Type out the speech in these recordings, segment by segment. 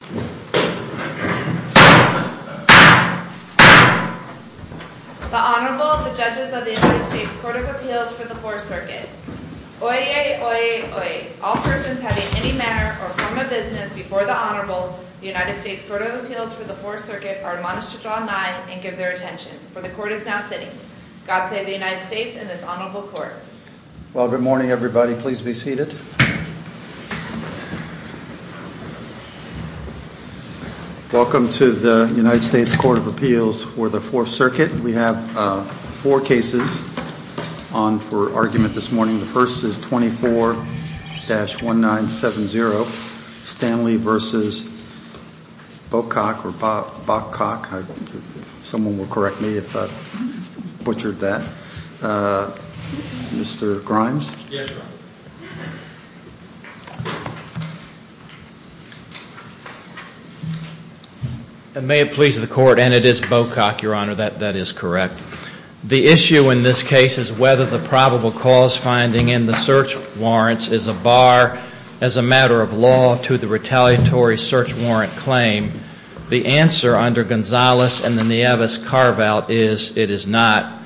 The Honorable, the Judges of the United States Court of Appeals for the Fourth Circuit. Oyez, oyez, oyez. All persons having any manner or form of business before the Honorable, the United States Court of Appeals for the Fourth Circuit, are admonished to draw a nine and give their attention, for the Court is now sitting. God save the United States and this Honorable Court. Well, good morning everybody. Please be seated. Welcome to the United States Court of Appeals for the Fourth Circuit. We have four cases on for argument this morning. The first is 24-1970, Stanley v. Bocock. Someone will correct me if I butchered that. Mr. Grimes? Yes, Your Honor. May it please the Court, and it is Bocock, Your Honor, that that is correct. The issue in this case is whether the probable cause finding in the search warrants is a bar as a matter of law to the retaliatory search warrant claim. The answer under Gonzales and the Nieves carve out is it is not.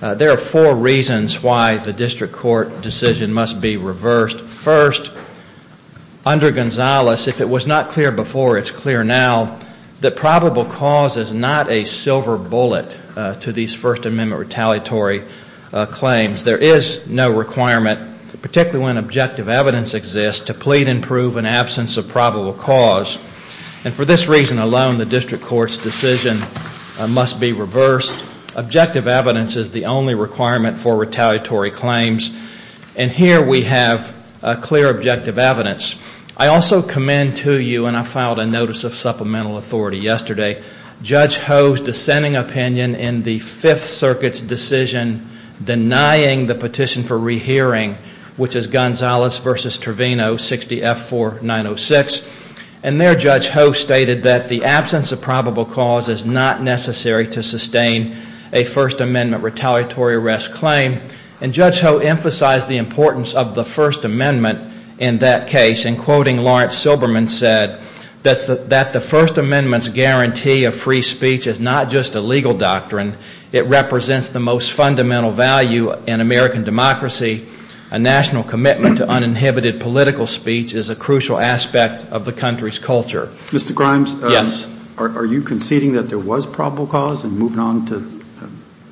There are four reasons why the district court decision must be reversed. First, under Gonzales, if it was not clear before, it's clear now, that probable cause is not a silver bullet to these First Amendment retaliatory claims. There is no requirement, particularly when objective evidence exists, to plead and prove an absence of probable cause. And for this reason alone, the district court's decision must be reversed. Objective evidence is the only requirement for retaliatory claims. And here we have clear objective evidence. I also commend to you, and I filed a notice of supplemental authority yesterday, Judge Ho's dissenting opinion in the Fifth Circuit's decision denying the petition for rehearing, which is Gonzales v. Trevino, 60F4906. And there Judge Ho stated that the absence of probable cause is not necessary to sustain a First Amendment retaliatory arrest claim. And Judge Ho emphasized the importance of the First Amendment in that case. In quoting, Lawrence Silberman said that the First Amendment's guarantee of free speech is not just a legal doctrine, it represents the most fundamental value in American democracy. A national commitment to uninhibited political speech is a crucial aspect of the country's culture. Mr. Grimes? Yes. Are you conceding that there was probable cause and moving on to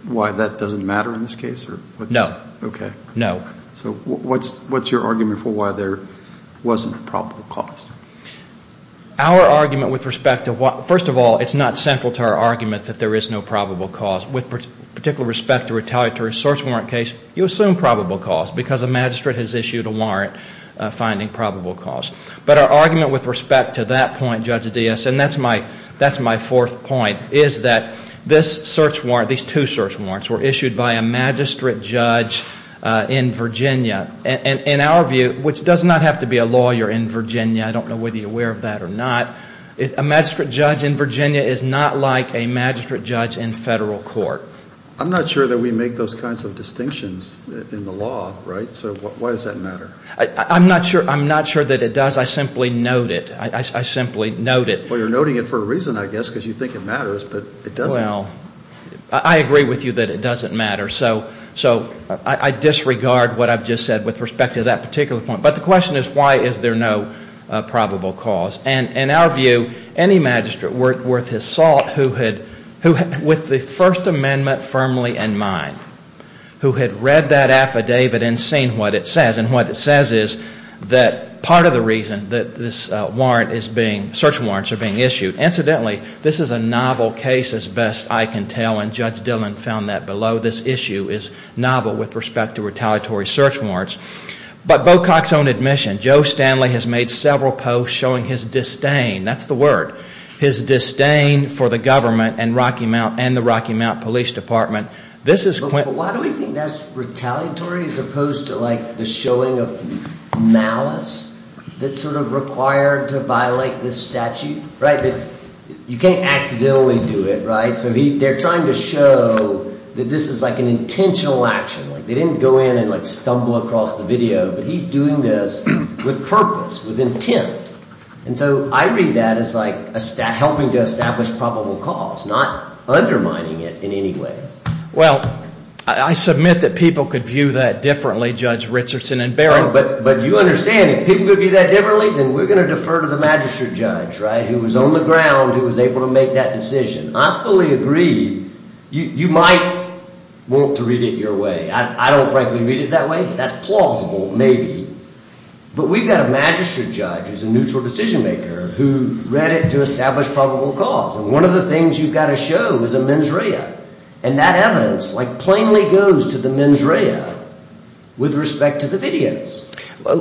why that doesn't matter in this case? No. Okay. No. So what's your argument for why there wasn't a probable cause? Our argument with respect to what, first of all, it's not central to our argument that there is no probable cause. With particular respect to retaliatory search warrant case, you assume probable cause because a magistrate has issued a warrant finding probable cause. But our argument with respect to that point, Judge Adias, and that's my fourth point, is that this search warrant, these two search warrants were issued by a magistrate judge in Virginia. In our view, which does not have to be a lawyer in Virginia, I don't know whether you're aware of that or not, a magistrate judge in Virginia is not like a magistrate judge in federal court. I'm not sure that we make those kinds of distinctions in the law, right? So why does that matter? I'm not sure that it does. I simply note it. I simply note it. Well, you're noting it for a reason, I guess, because you think it matters, but it doesn't. Well, I agree with you that it doesn't matter. So I disregard what I've just said with respect to that particular point. But the question is why is there no probable cause? And in our view, any magistrate worth his salt who had, with the First Amendment firmly in mind, who had read that affidavit and seen what it says, and what it says is that part of the reason that this warrant is being, search warrants are being issued, incidentally, this is a novel case as best I can tell, and Judge Dillon found that below. This issue is novel with respect to retaliatory search warrants. But Bocock's own admission, Joe Stanley has made several posts showing his disdain, that's the word, his disdain for the government and the Rocky Mount Police Department. But why do we think that's retaliatory as opposed to like the showing of malice that's sort of required to violate this statute, right? You can't accidentally do it, right? So they're trying to show that this is like an intentional action. They didn't go in and like stumble across the video, but he's doing this with purpose, with intent. And so I read that as like helping to establish probable cause, not undermining it in any way. Well, I submit that people could view that differently, Judge Richardson and Barron. But you understand, if people could view that differently, then we're going to defer to the magistrate judge, right, who was on the ground, who was able to make that decision. I fully agree you might want to read it your way. I don't frankly read it that way, but that's plausible maybe. But we've got a magistrate judge who's a neutral decision maker who read it to establish probable cause. And one of the things you've got to show is a mens rea. And that evidence like plainly goes to the mens rea with respect to the videos.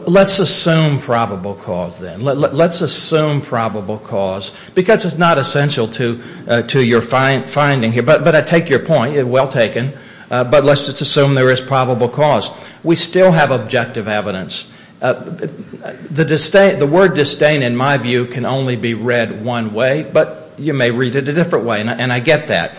Let's assume probable cause then. Let's assume probable cause because it's not essential to your finding here. But I take your point. Well taken. But let's just assume there is probable cause. We still have objective evidence. The word disdain, in my view, can only be read one way, but you may read it a different way. And I get that.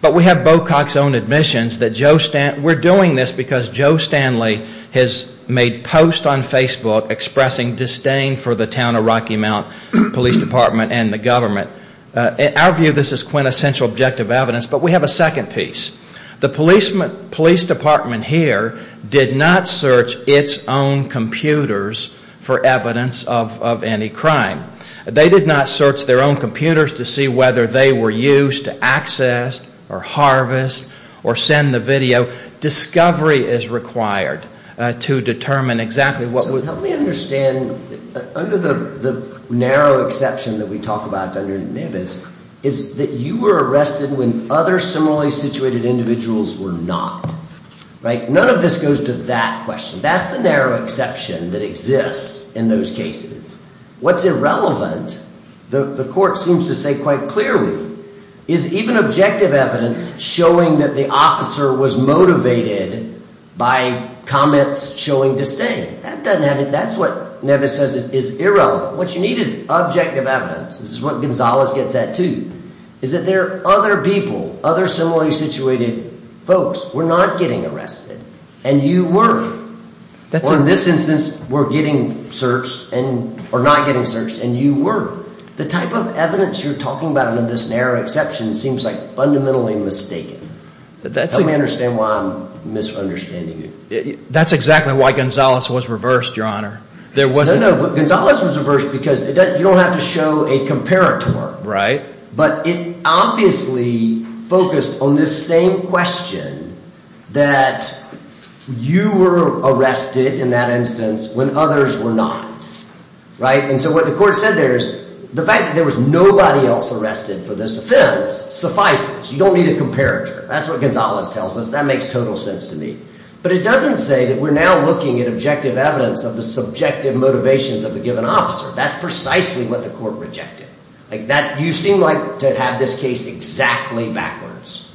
But we have Bocock's own admissions that Joe Stanley we're doing this because Joe Stanley has made posts on Facebook expressing disdain for the town of Rocky Mount Police Department and the government. In our view, this is quintessential objective evidence. But we have a second piece. The police department here did not search its own computers for evidence of any crime. They did not search their own computers to see whether they were used to access or harvest or send the video. Discovery is required to determine exactly what was. Let me understand. Under the narrow exception that we talk about under NIBIS is that you were arrested when other similarly situated individuals were not. None of this goes to that question. That's the narrow exception that exists in those cases. What's irrelevant, the court seems to say quite clearly, is even objective evidence showing that the officer was motivated by comments showing disdain. That's what NIBIS says is irrelevant. What you need is objective evidence. This is what Gonzalez gets at, too, is that there are other people, other similarly situated folks, were not getting arrested and you were. Or in this instance, were not getting searched and you were. The type of evidence you're talking about under this narrow exception seems like fundamentally mistaken. Help me understand why I'm misunderstanding you. That's exactly why Gonzalez was reversed, Your Honor. No, no. Gonzalez was reversed because you don't have to show a comparator. Right. But it obviously focused on this same question that you were arrested in that instance when others were not. Right. And so what the court said there is the fact that there was nobody else arrested for this offense suffices. You don't need a comparator. That's what Gonzalez tells us. That makes total sense to me. But it doesn't say that we're now looking at objective evidence of the subjective motivations of a given officer. That's precisely what the court rejected. You seem like to have this case exactly backwards.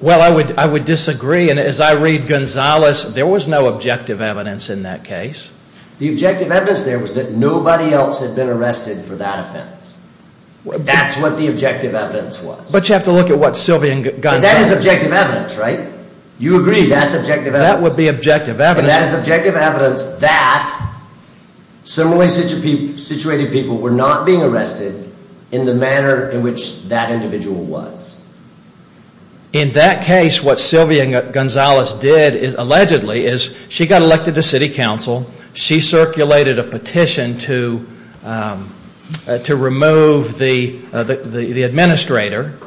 Well, I would disagree. And as I read Gonzalez, there was no objective evidence in that case. The objective evidence there was that nobody else had been arrested for that offense. That's what the objective evidence was. But you have to look at what Sylvia and Gonzalez. But that is objective evidence, right? You agree. That's objective evidence. That would be objective evidence. And that is objective evidence that similarly situated people were not being arrested in the manner in which that individual was. In that case, what Sylvia Gonzalez did, allegedly, is she got elected to city council. She circulated a petition to remove the administrator.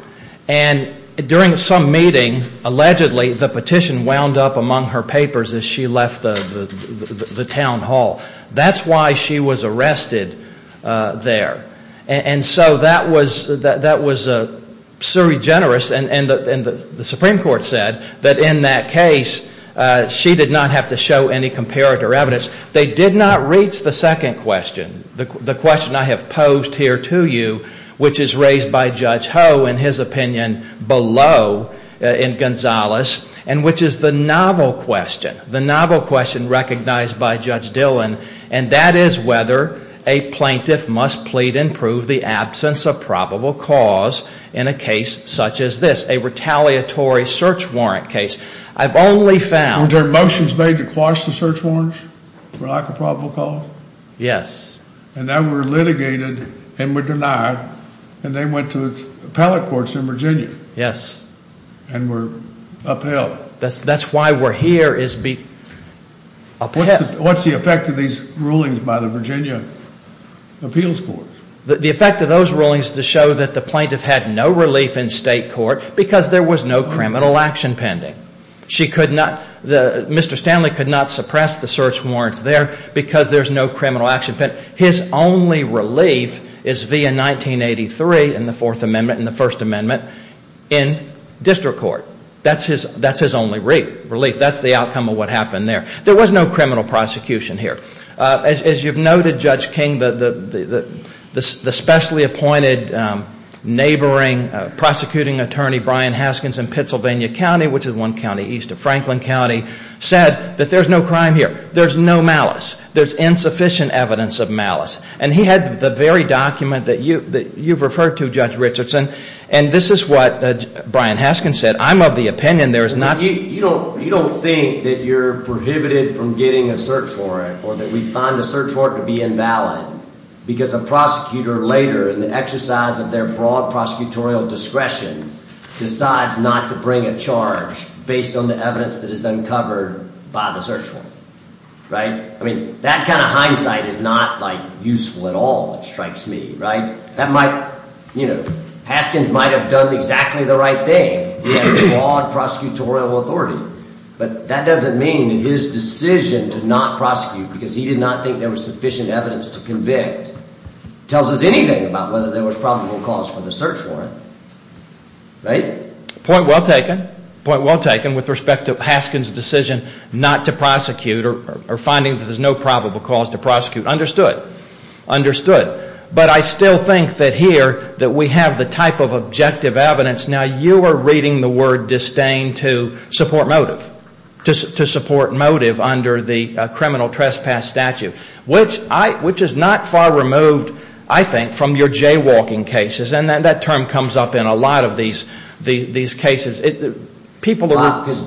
And during some meeting, allegedly, the petition wound up among her papers as she left the town hall. That's why she was arrested there. And so that was surregenerous. And the Supreme Court said that in that case, she did not have to show any comparative evidence. They did not reach the second question, the question I have posed here to you, which is raised by Judge Ho in his opinion below in Gonzalez, and which is the novel question, the novel question recognized by Judge Dillon. And that is whether a plaintiff must plead and prove the absence of probable cause in a case such as this, a retaliatory search warrant case. I've only found... Were there motions made to quash the search warrants for lack of probable cause? Yes. And that were litigated and were denied. And they went to appellate courts in Virginia. Yes. And were upheld. That's why we're here, is be upheld. What's the effect of these rulings by the Virginia appeals court? The effect of those rulings is to show that the plaintiff had no relief in state court because there was no criminal action pending. She could not... Mr. Stanley could not suppress the search warrants there because there's no criminal action pending. His only relief is via 1983 in the Fourth Amendment and the First Amendment in district court. That's his only relief. That's the outcome of what happened there. There was no criminal prosecution here. As you've noted, Judge King, the specially appointed neighboring prosecuting attorney, Brian Haskins, in Pennsylvania County, which is one county east of Franklin County, said that there's no crime here. There's no malice. There's insufficient evidence of malice. And he had the very document that you've referred to, Judge Richardson, and this is what Brian Haskins said. I'm of the opinion there is not... You don't think that you're prohibited from getting a search warrant or that we find a search warrant to be invalid because a prosecutor later, in the exercise of their broad prosecutorial discretion, decides not to bring a charge based on the evidence that is uncovered by the search warrant. Right? I mean, that kind of hindsight is not, like, useful at all, which strikes me. That might... You know, Haskins might have done exactly the right thing. He had broad prosecutorial authority. But that doesn't mean his decision to not prosecute, because he did not think there was sufficient evidence to convict, tells us anything about whether there was probable cause for the search warrant. Right? Point well taken. Point well taken with respect to Haskins' decision not to prosecute or finding that there's no probable cause to prosecute. Understood. Understood. But I still think that here, that we have the type of objective evidence. Now, you are reading the word disdain to support motive, to support motive under the criminal trespass statute, which is not far removed, I think, from your jaywalking cases. And that term comes up in a lot of these cases. A lot, because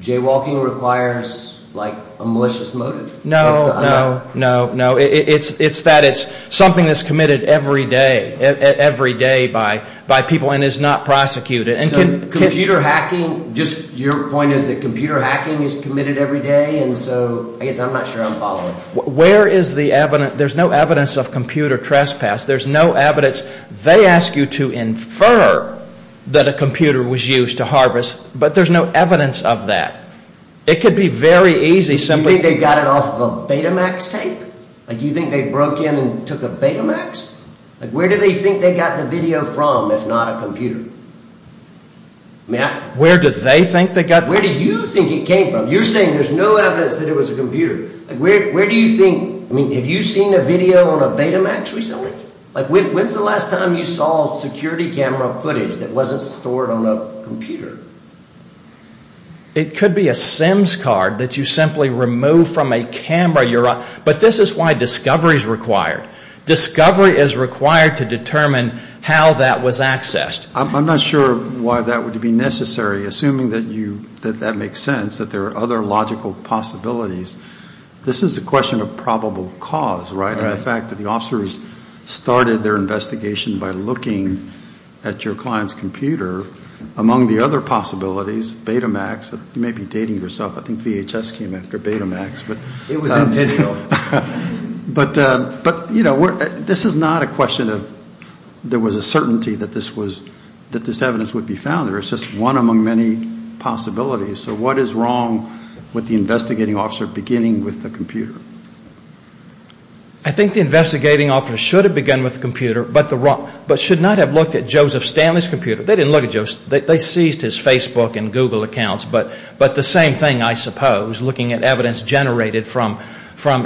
jaywalking requires, like, a malicious motive. No, no, no, no. It's that it's something that's committed every day, every day by people and is not prosecuted. So computer hacking, just your point is that computer hacking is committed every day, and so I guess I'm not sure I'm following. Where is the evidence? There's no evidence of computer trespass. There's no evidence. They ask you to infer that a computer was used to harvest, but there's no evidence of that. It could be very easy simply... You think they got it off of a Betamax tape? Like, you think they broke in and took a Betamax? Like, where do they think they got the video from if not a computer? Matt? Where do they think they got... Where do you think it came from? You're saying there's no evidence that it was a computer. Like, where do you think... I mean, have you seen a video on a Betamax recently? Like, when's the last time you saw security camera footage that wasn't stored on a computer? It could be a SIMS card that you simply remove from a camera. But this is why discovery is required. Discovery is required to determine how that was accessed. I'm not sure why that would be necessary, assuming that that makes sense, that there are other logical possibilities. This is a question of probable cause, right? And the fact that the officers started their investigation by looking at your client's computer, among the other possibilities, Betamax. You may be dating yourself. I think VHS came after Betamax. It was in digital. But, you know, this is not a question of there was a certainty that this evidence would be found there. It's just one among many possibilities. So what is wrong with the investigating officer beginning with the computer? I think the investigating officer should have begun with the computer, but should not have looked at Joseph Stanley's computer. They didn't look at Joseph's. They seized his Facebook and Google accounts. But the same thing, I suppose, looking at evidence generated from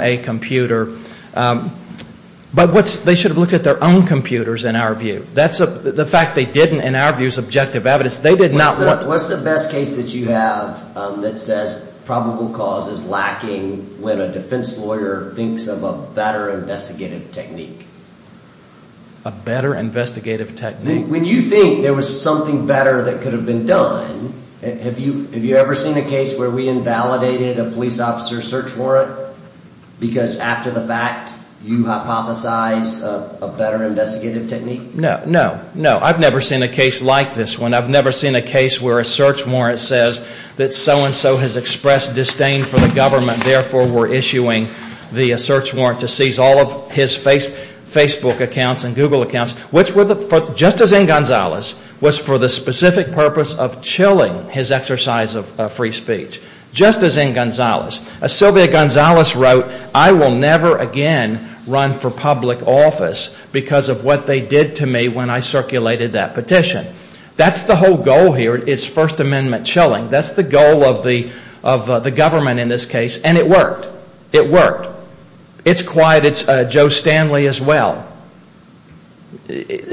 a computer. But they should have looked at their own computers, in our view. The fact they didn't, in our view, is objective evidence. What's the best case that you have that says probable cause is lacking when a defense lawyer thinks of a better investigative technique? A better investigative technique? When you think there was something better that could have been done, have you ever seen a case where we invalidated a police officer's search warrant? Because after the fact, you hypothesize a better investigative technique? No, no, no. I've never seen a case like this one. I've never seen a case where a search warrant says that so-and-so has expressed disdain for the government, and therefore were issuing the search warrant to seize all of his Facebook accounts and Google accounts, which, just as in Gonzales, was for the specific purpose of chilling his exercise of free speech. Just as in Gonzales. As Sylvia Gonzales wrote, I will never again run for public office because of what they did to me when I circulated that petition. That's the whole goal here. It's First Amendment chilling. That's the goal of the government in this case, and it worked. It worked. It's quiet. It's Joe Stanley as well.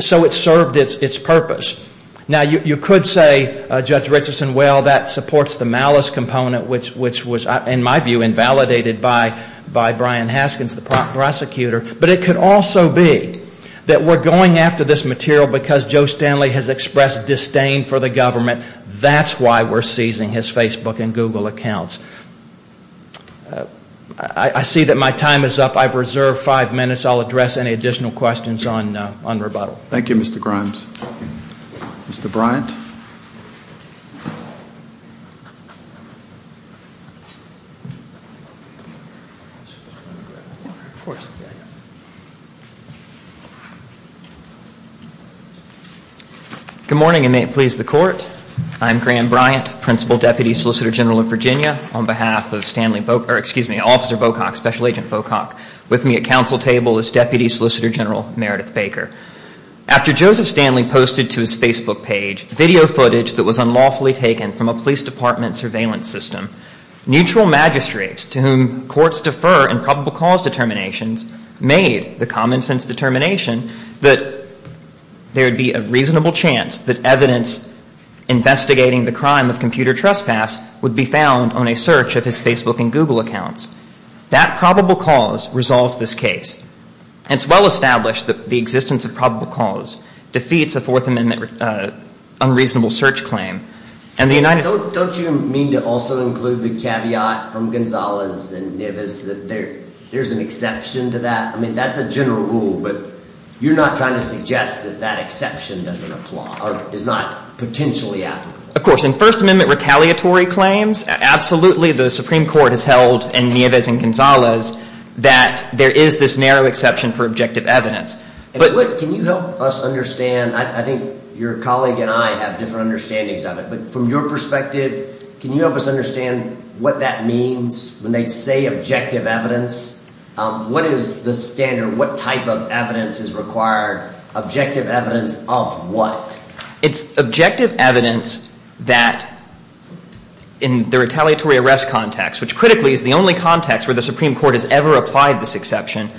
So it served its purpose. Now, you could say, Judge Richardson, well, that supports the malice component, which was, in my view, invalidated by Brian Haskins, the prosecutor. But it could also be that we're going after this material because Joe Stanley has expressed disdain for the government. That's why we're seizing his Facebook and Google accounts. I see that my time is up. I've reserved five minutes. I'll address any additional questions on rebuttal. Thank you, Mr. Grimes. Mr. Bryant. Good morning, and may it please the Court. I'm Graham Bryant, Principal Deputy Solicitor General of Virginia, on behalf of Stanley Bocock or, excuse me, Officer Bocock, Special Agent Bocock. With me at council table is Deputy Solicitor General Meredith Baker. After Joseph Stanley posted to his Facebook page that they were going after Joe Stanley's Facebook account, that there would be a reasonable chance that evidence investigating the crime of computer trespass would be found on a search of his Facebook and Google accounts. That probable cause resolves this case, and it's well established that the existence of probable cause defeats a Fourth Amendment unreasonable search claim. Don't you mean to also include the caveat from Gonzalez and Nieves that there's an exception to that? I mean, that's a general rule, but you're not trying to suggest that that exception doesn't apply or is not potentially applicable? Of course. In First Amendment retaliatory claims, absolutely the Supreme Court has held in Nieves and Gonzalez that there is this narrow exception for objective evidence. Can you help us understand? I think your colleague and I have different understandings of it, but from your perspective, can you help us understand what that means when they say objective evidence? What is the standard? What type of evidence is required? Objective evidence of what? It's objective evidence that in the retaliatory arrest context, which critically is the only context where the Supreme Court has ever applied this exception,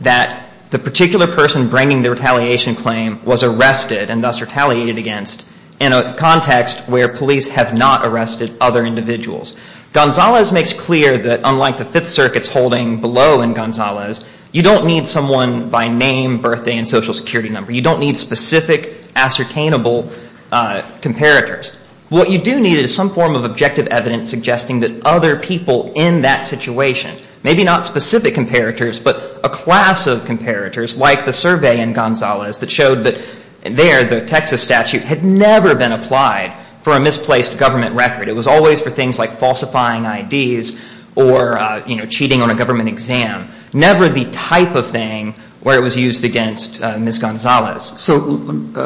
that the particular person bringing the retaliation claim was arrested and thus retaliated against in a context where police have not arrested other individuals. Gonzalez makes clear that unlike the Fifth Circuit's holding below in Gonzalez, you don't need someone by name, birthday, and Social Security number. You don't need specific ascertainable comparators. What you do need is some form of objective evidence suggesting that other people in that situation, maybe not specific comparators, but a class of comparators like the survey in Gonzalez that showed that there the Texas statute had never been applied for a misplaced government record. It was always for things like falsifying IDs or, you know, cheating on a government exam. Never the type of thing where it was used against Ms. Gonzalez. So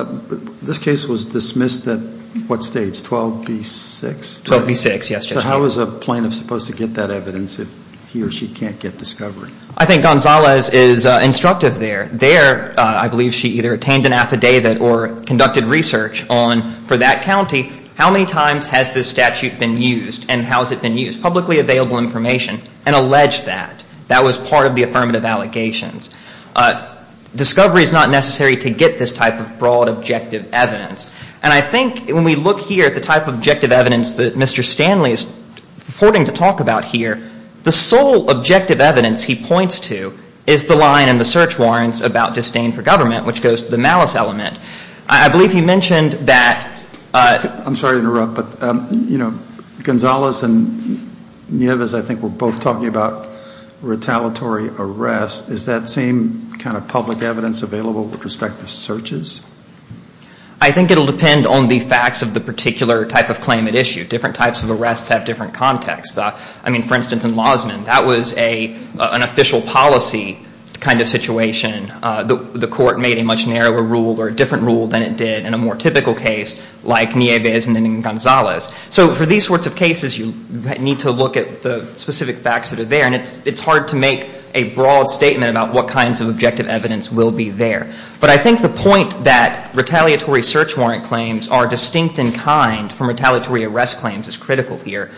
this case was dismissed at what stage, 12B6? 12B6, yes, Justice. So how is a plaintiff supposed to get that evidence if he or she can't get discovery? I think Gonzalez is instructive there. There, I believe she either attained an affidavit or conducted research on, for that county, how many times has this statute been used and how has it been used, publicly available information, and alleged that. That was part of the affirmative allegations. Discovery is not necessary to get this type of broad objective evidence. And I think when we look here at the type of objective evidence that Mr. Stanley is reporting to talk about here, the sole objective evidence he points to is the line in the search warrants about disdain for government, which goes to the malice element. I believe he mentioned that. I'm sorry to interrupt, but, you know, Gonzalez and Nieves, I think we're both talking about retaliatory arrests. Is that same kind of public evidence available with respect to searches? I think it will depend on the facts of the particular type of claim at issue. Different types of arrests have different contexts. I mean, for instance, in Lausman, that was an official policy kind of situation. The court made a much narrower rule or a different rule than it did in a more typical case like Nieves and then Gonzalez. So for these sorts of cases, you need to look at the specific facts that are there. And it's hard to make a broad statement about what kinds of objective evidence will be there. But I think the point that retaliatory search warrant claims are distinct in kind from retaliatory arrest claims is critical here.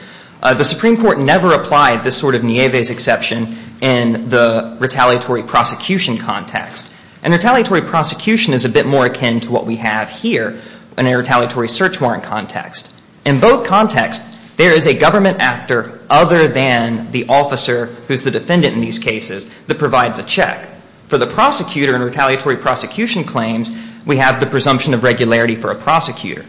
The Supreme Court never applied this sort of Nieves exception in the retaliatory prosecution context. And retaliatory prosecution is a bit more akin to what we have here in a retaliatory search warrant context. In both contexts, there is a government actor other than the officer who's the defendant in these cases that provides a check. For the prosecutor in retaliatory prosecution claims, we have the presumption of regularity for a prosecutor.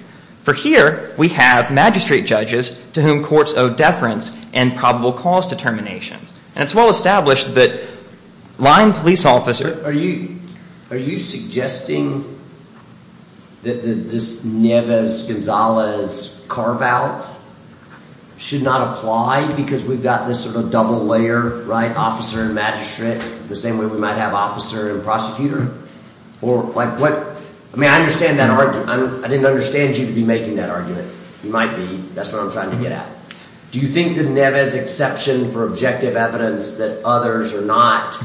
For here, we have magistrate judges to whom courts owe deference and probable cause determinations. And it's well established that line police officers— Are you suggesting that this Nieves-Gonzalez carveout should not apply because we've got this sort of double layer, right, officer and magistrate, the same way we might have officer and prosecutor? I mean, I understand that argument. I didn't understand you to be making that argument. You might be. That's what I'm trying to get at. Do you think the Nieves exception for objective evidence that others are not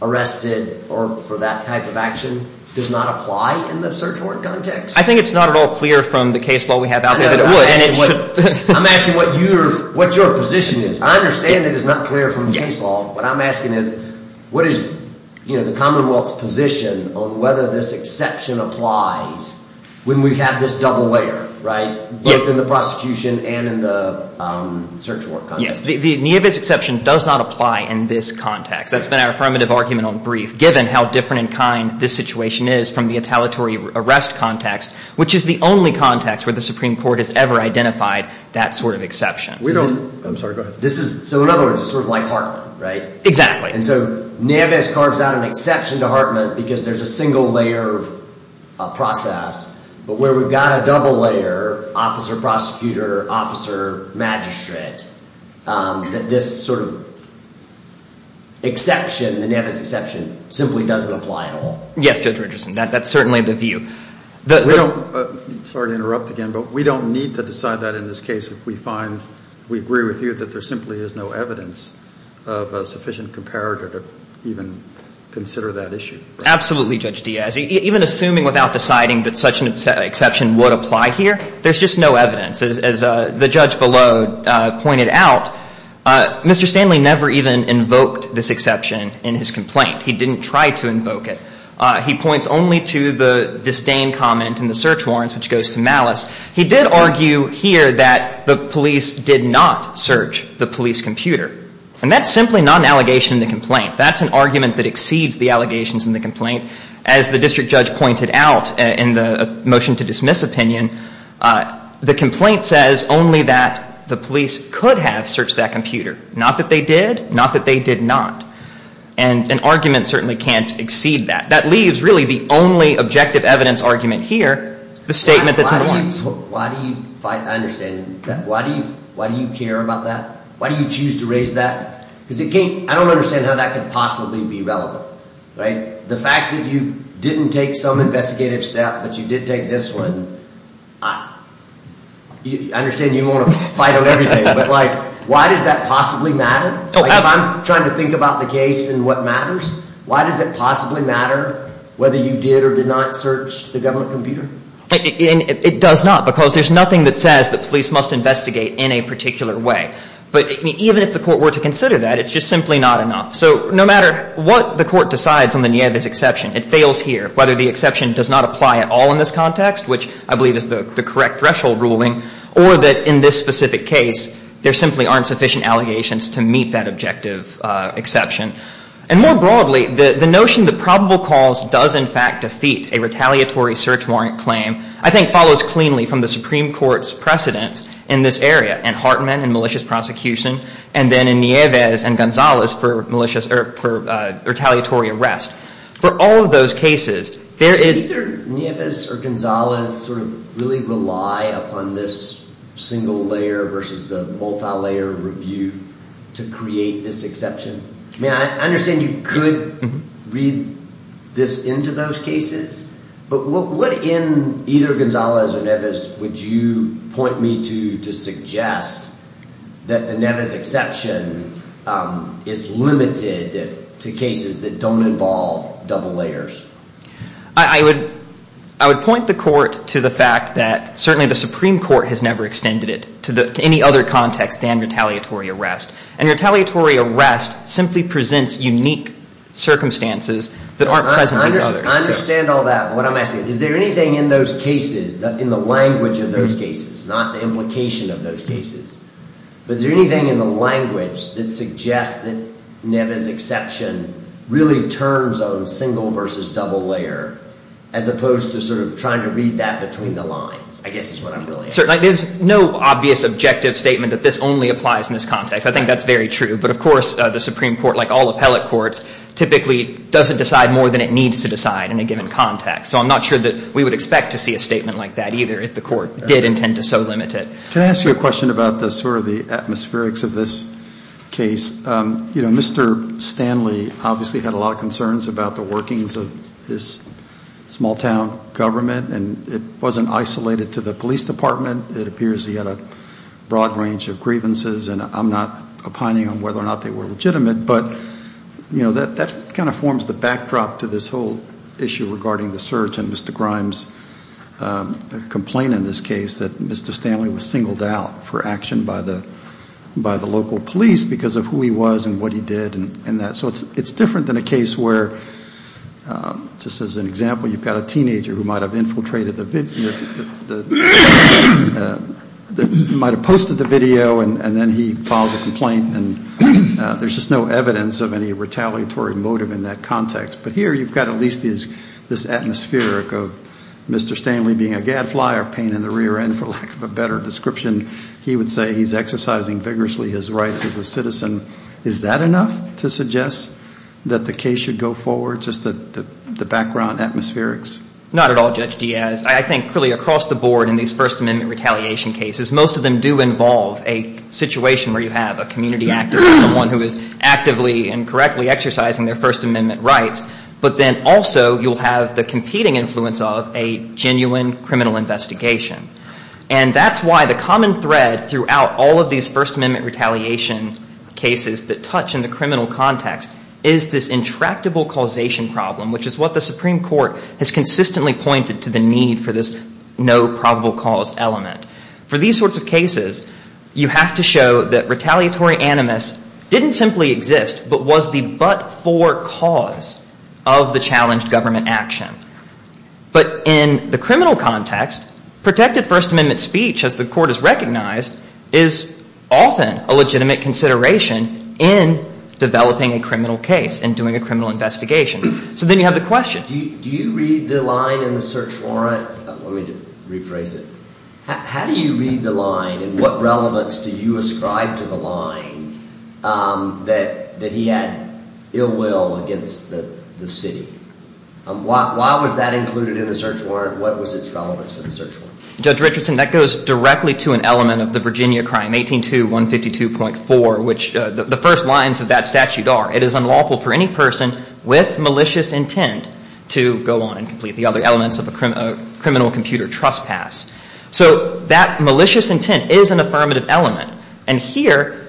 arrested for that type of action does not apply in the search warrant context? I think it's not at all clear from the case law we have out there that it would. I'm asking what your position is. I understand it is not clear from the case law. What I'm asking is what is the Commonwealth's position on whether this exception applies when we have this double layer, right, both in the prosecution and in the search warrant context? Yes, the Nieves exception does not apply in this context. That's been our affirmative argument on brief, given how different in kind this situation is from the retaliatory arrest context, which is the only context where the Supreme Court has ever identified that sort of exception. So in other words, it's sort of like Hartman, right? Exactly. And so Nieves carves out an exception to Hartman because there's a single layer of process, but where we've got a double layer, officer, prosecutor, officer, magistrate, that this sort of exception, the Nieves exception, simply doesn't apply at all. Yes, Judge Richardson, that's certainly the view. Sorry to interrupt again, but we don't need to decide that in this case if we find, we agree with you, that there simply is no evidence of a sufficient comparator to even consider that issue. Absolutely, Judge Diaz. Even assuming without deciding that such an exception would apply here, there's just no evidence. As the judge below pointed out, Mr. Stanley never even invoked this exception in his complaint. He didn't try to invoke it. He points only to the disdain comment in the search warrants, which goes to malice. He did argue here that the police did not search the police computer. And that's simply not an allegation in the complaint. That's an argument that exceeds the allegations in the complaint. As the district judge pointed out in the motion to dismiss opinion, the complaint says only that the police could have searched that computer, not that they did, not that they did not. And an argument certainly can't exceed that. That leaves really the only objective evidence argument here, the statement that's in the warrants. Why do you fight, I understand. Why do you care about that? Why do you choose to raise that? Because it can't, I don't understand how that could possibly be relevant, right? The fact that you didn't take some investigative step, but you did take this one, I understand you want to fight on everything, but like why does that possibly matter? If I'm trying to think about the case and what matters, why does it possibly matter whether you did or did not search the government computer? It does not because there's nothing that says the police must investigate in a particular way. But even if the court were to consider that, it's just simply not enough. So no matter what the court decides on the Nieves exception, it fails here, whether the exception does not apply at all in this context, which I believe is the correct threshold ruling, or that in this specific case there simply aren't sufficient allegations to meet that objective exception. And more broadly, the notion that probable cause does in fact defeat a retaliatory search warrant claim I think follows cleanly from the Supreme Court's precedence in this area, in Hartman and malicious prosecution, and then in Nieves and Gonzalez for retaliatory arrest. For all of those cases, there is… Either Nieves or Gonzalez sort of really rely upon this single layer versus the multi-layer review to create this exception. I understand you could read this into those cases, but what in either Gonzalez or Nieves would you point me to to suggest that the Nieves exception is limited to cases that don't involve double layers? I would point the court to the fact that certainly the Supreme Court has never extended it to any other context than retaliatory arrest. And retaliatory arrest simply presents unique circumstances that aren't present in these others. I understand all that, but what I'm asking is, is there anything in those cases, in the language of those cases, not the implication of those cases, but is there anything in the language that suggests that Nieves exception really turns on single versus double layer as opposed to sort of trying to read that between the lines, I guess is what I'm really asking. There's no obvious objective statement that this only applies in this context. I think that's very true. But, of course, the Supreme Court, like all appellate courts, typically doesn't decide more than it needs to decide in a given context. So I'm not sure that we would expect to see a statement like that either if the court did intend to so limit it. Can I ask you a question about sort of the atmospherics of this case? You know, Mr. Stanley obviously had a lot of concerns about the workings of this small town government. And it wasn't isolated to the police department. It appears he had a broad range of grievances. And I'm not opining on whether or not they were legitimate. But, you know, that kind of forms the backdrop to this whole issue regarding the search and Mr. Grimes' complaint in this case that Mr. Grimes filed by the local police because of who he was and what he did and that. So it's different than a case where, just as an example, you've got a teenager who might have infiltrated the video, might have posted the video, and then he files a complaint. And there's just no evidence of any retaliatory motive in that context. But here you've got at least this atmospheric of Mr. Stanley being a gadfly or pain in the rear end, for lack of a better description. He would say he's exercising vigorously his rights as a citizen. Is that enough to suggest that the case should go forward, just the background atmospherics? Not at all, Judge Diaz. I think really across the board in these First Amendment retaliation cases, most of them do involve a situation where you have a community activist, someone who is actively and correctly exercising their First Amendment rights. But then also you'll have the competing influence of a genuine criminal investigation. And that's why the common thread throughout all of these First Amendment retaliation cases that touch in the criminal context is this intractable causation problem, which is what the Supreme Court has consistently pointed to the need for this no probable cause element. For these sorts of cases, you have to show that retaliatory animus didn't simply exist but was the but-for cause of the challenged government action. But in the criminal context, protected First Amendment speech, as the court has recognized, is often a legitimate consideration in developing a criminal case and doing a criminal investigation. So then you have the question. Do you read the line in the search warrant? Let me rephrase it. How do you read the line and what relevance do you ascribe to the line that he had ill will against the city? Why was that included in the search warrant? What was its relevance to the search warrant? Judge Richardson, that goes directly to an element of the Virginia crime, 182152.4, which the first lines of that statute are, it is unlawful for any person with malicious intent to go on and complete the other elements of a criminal computer trespass. So that malicious intent is an affirmative element. And here,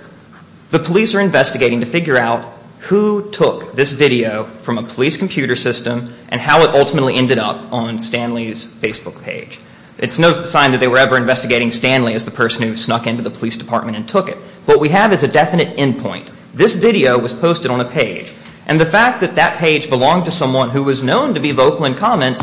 the police are investigating to figure out who took this video from a police computer system and how it ultimately ended up on Stanley's Facebook page. It's no sign that they were ever investigating Stanley as the person who snuck into the police department and took it. What we have is a definite endpoint. This video was posted on a page. And the fact that that page belonged to someone who was known to be vocal in comments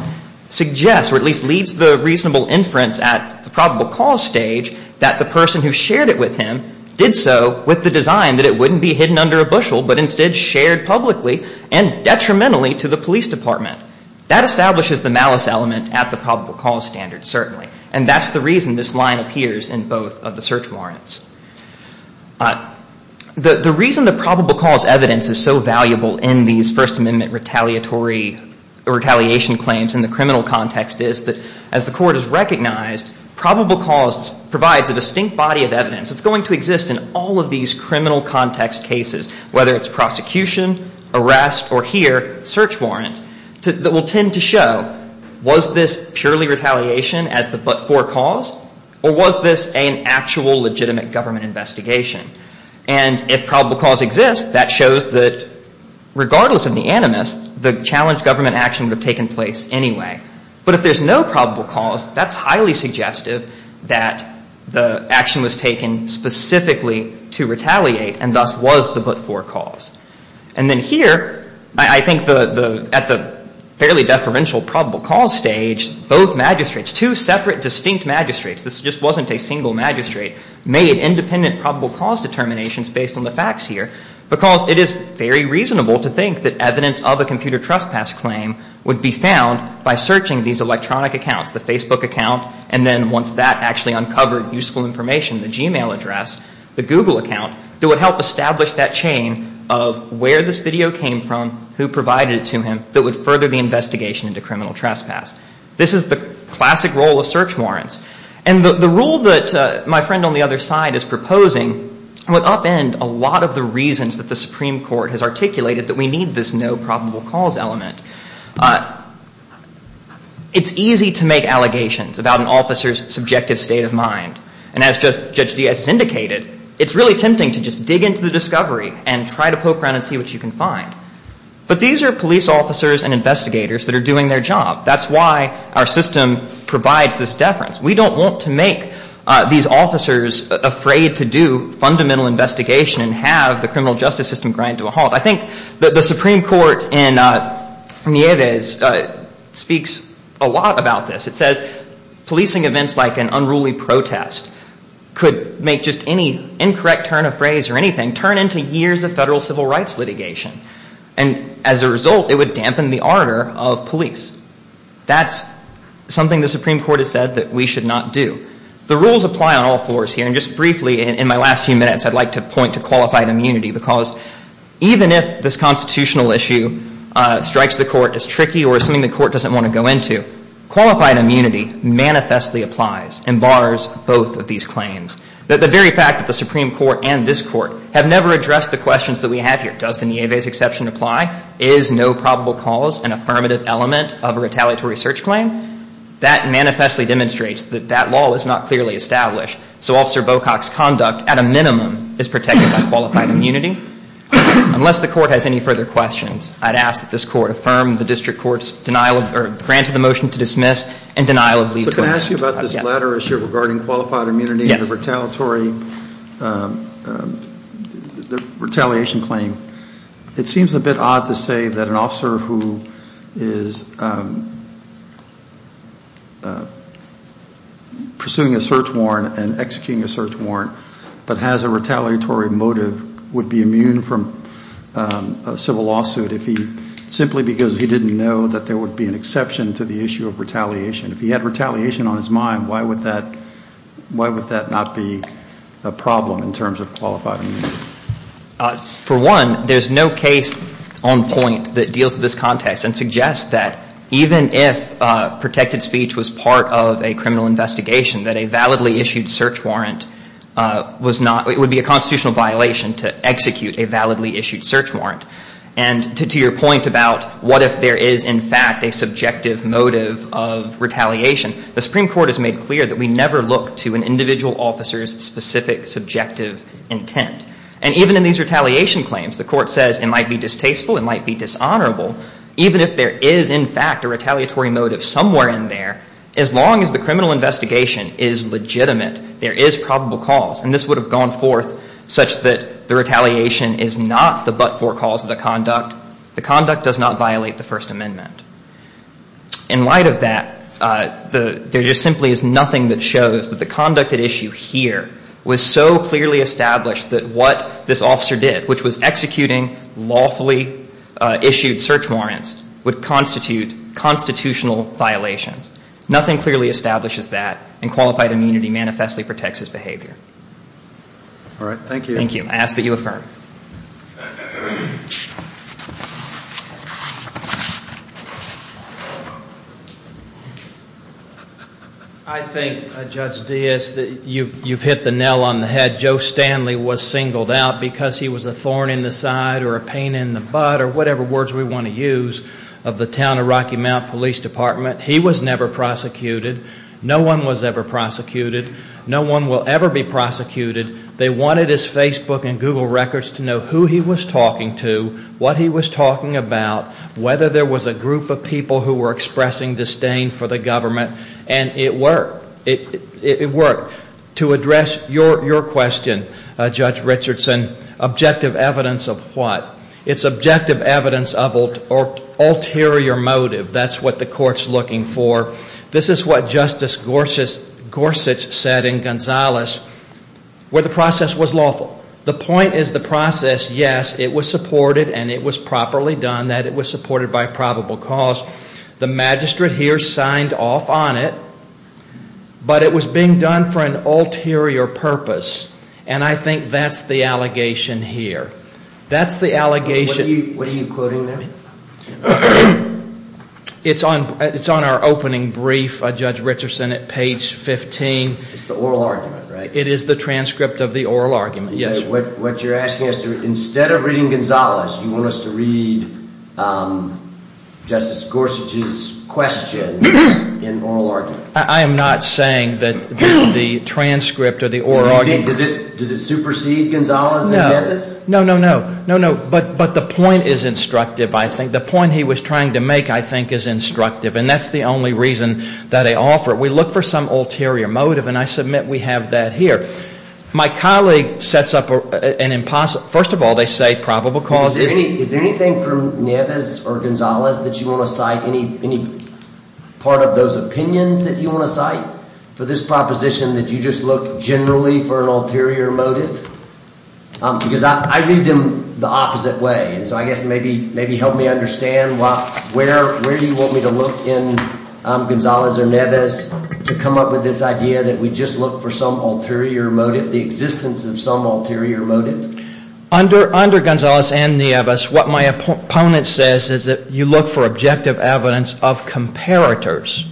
suggests, or at least leads the reasonable inference at the probable cause stage, that the person who shared it with him did so with the design that it wouldn't be hidden under a bushel, but instead shared publicly and detrimentally to the police department. That establishes the malice element at the probable cause standard, certainly. And that's the reason this line appears in both of the search warrants. The reason the probable cause evidence is so valuable in these First Amendment retaliation claims in the criminal context is that, as the Court has recognized, probable cause provides a distinct body of evidence. It's going to exist in all of these criminal context cases, whether it's prosecution, arrest, or here, search warrant, that will tend to show, was this purely retaliation as the but-for cause, or was this an actual legitimate government investigation? And if probable cause exists, that shows that, regardless of the animus, the challenged government action would have taken place anyway. But if there's no probable cause, that's highly suggestive that the action was taken specifically to retaliate, and thus was the but-for cause. And then here, I think at the fairly deferential probable cause stage, both magistrates, two separate distinct magistrates, this just wasn't a single magistrate, made independent probable cause determinations based on the facts here, because it is very reasonable to think that evidence of a computer trespass claim would be found by searching these electronic accounts, the Facebook account, and then once that actually uncovered useful information, the Gmail address, the Google account, that would help establish that chain of where this video came from, who provided it to him, that would further the investigation into criminal trespass. This is the classic role of search warrants. And the rule that my friend on the other side is proposing would upend a lot of the reasons that the Supreme Court has articulated that we need this no probable cause element. It's easy to make allegations about an officer's subjective state of mind. And as Judge Diaz has indicated, it's really tempting to just dig into the discovery and try to poke around and see what you can find. But these are police officers and investigators that are doing their job. That's why our system provides this deference. We don't want to make these officers afraid to do fundamental investigation and have the criminal justice system grind to a halt. I think the Supreme Court in Nieves speaks a lot about this. It says policing events like an unruly protest could make just any incorrect turn of phrase or anything turn into years of federal civil rights litigation. And as a result, it would dampen the ardor of police. That's something the Supreme Court has said that we should not do. The rules apply on all floors here. And just briefly in my last few minutes, I'd like to point to qualified immunity because even if this constitutional issue strikes the court as tricky or something the court doesn't want to go into, qualified immunity manifestly applies and bars both of these claims. The very fact that the Supreme Court and this court have never addressed the questions that we have here, does the Nieves exception apply, is no probable cause an affirmative element of a retaliatory search claim, that manifestly demonstrates that that law is not clearly established. So Officer Bocock's conduct, at a minimum, is protected by qualified immunity. Unless the court has any further questions, I'd ask that this court affirm the district court's denial of or grant of the motion to dismiss and denial of leave to arrest. So can I ask you about this latter issue regarding qualified immunity and the retaliatory, the retaliation claim? It seems a bit odd to say that an officer who is pursuing a search warrant and executing a search warrant but has a retaliatory motive would be immune from a civil lawsuit if he, simply because he didn't know that there would be an exception to the issue of retaliation. If he had retaliation on his mind, why would that not be a problem in terms of qualified immunity? For one, there's no case on point that deals with this context and suggests that even if protected speech was part of a criminal investigation, that a validly issued search warrant was not, it would be a constitutional violation to execute a validly issued search warrant. And to your point about what if there is, in fact, a subjective motive of retaliation, the Supreme Court has made clear that we never look to an individual officer's specific subjective intent. And even in these retaliation claims, the court says it might be distasteful, it might be dishonorable, even if there is, in fact, a retaliatory motive somewhere in there, as long as the criminal investigation is legitimate, there is probable cause. And this would have gone forth such that the retaliation is not the but-for cause of the conduct. The conduct does not violate the First Amendment. In light of that, there just simply is nothing that shows that the conduct at issue here was so clearly established that what this officer did, which was executing lawfully issued search warrants, would constitute constitutional violations. Nothing clearly establishes that, and qualified immunity manifestly protects his behavior. All right. Thank you. Thank you. I ask that you affirm. I think, Judge Diaz, that you've hit the nail on the head. Joe Stanley was singled out because he was a thorn in the side or a pain in the butt or whatever words we want to use of the town of Rocky Mount Police Department. He was never prosecuted. No one was ever prosecuted. No one will ever be prosecuted. They wanted his Facebook and Google records to know who he was talking to, what he was talking about, whether there was a group of people who were expressing disdain for the government, and it worked. It worked. To address your question, Judge Richardson, objective evidence of what? It's objective evidence of ulterior motive. That's what the court's looking for. This is what Justice Gorsuch said in Gonzales where the process was lawful. The point is the process, yes, it was supported and it was properly done, that it was supported by probable cause. The magistrate here signed off on it, but it was being done for an ulterior purpose, and I think that's the allegation here. That's the allegation. What are you quoting there? It's on our opening brief, Judge Richardson, at page 15. It's the oral argument, right? It is the transcript of the oral argument. So what you're asking is instead of reading Gonzales, you want us to read Justice Gorsuch's question in oral argument? I am not saying that the transcript or the oral argument. Does it supersede Gonzales in Memphis? No, no, no. But the point is instructive, I think. The point he was trying to make, I think, is instructive, and that's the only reason that I offer it. We look for some ulterior motive, and I submit we have that here. My colleague sets up an impossible – first of all, they say probable cause. Is there anything from Neves or Gonzales that you want to cite, any part of those opinions that you want to cite for this proposition that you just look generally for an ulterior motive? Because I read them the opposite way, and so I guess maybe help me understand where you want me to look in Gonzales or Neves to come up with this idea that we just look for some ulterior motive, the existence of some ulterior motive. Under Gonzales and Neves, what my opponent says is that you look for objective evidence of comparators.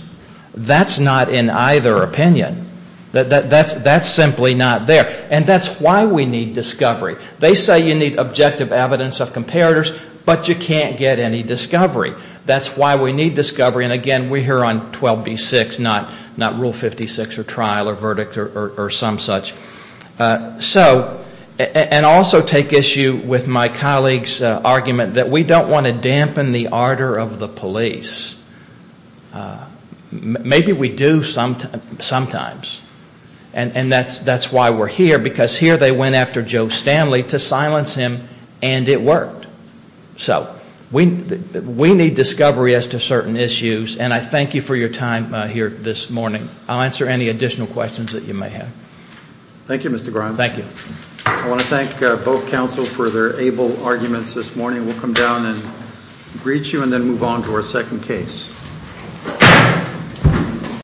That's not in either opinion. That's simply not there. And that's why we need discovery. They say you need objective evidence of comparators, but you can't get any discovery. That's why we need discovery, and again, we're here on 12b-6, not Rule 56 or trial or verdict or some such. And also take issue with my colleague's argument that we don't want to dampen the ardor of the police. Maybe we do sometimes. And that's why we're here, because here they went after Joe Stanley to silence him, and it worked. So we need discovery as to certain issues, and I thank you for your time here this morning. I'll answer any additional questions that you may have. Thank you, Mr. Grimes. Thank you. I want to thank both counsel for their able arguments this morning. We'll come down and greet you and then move on to our second case.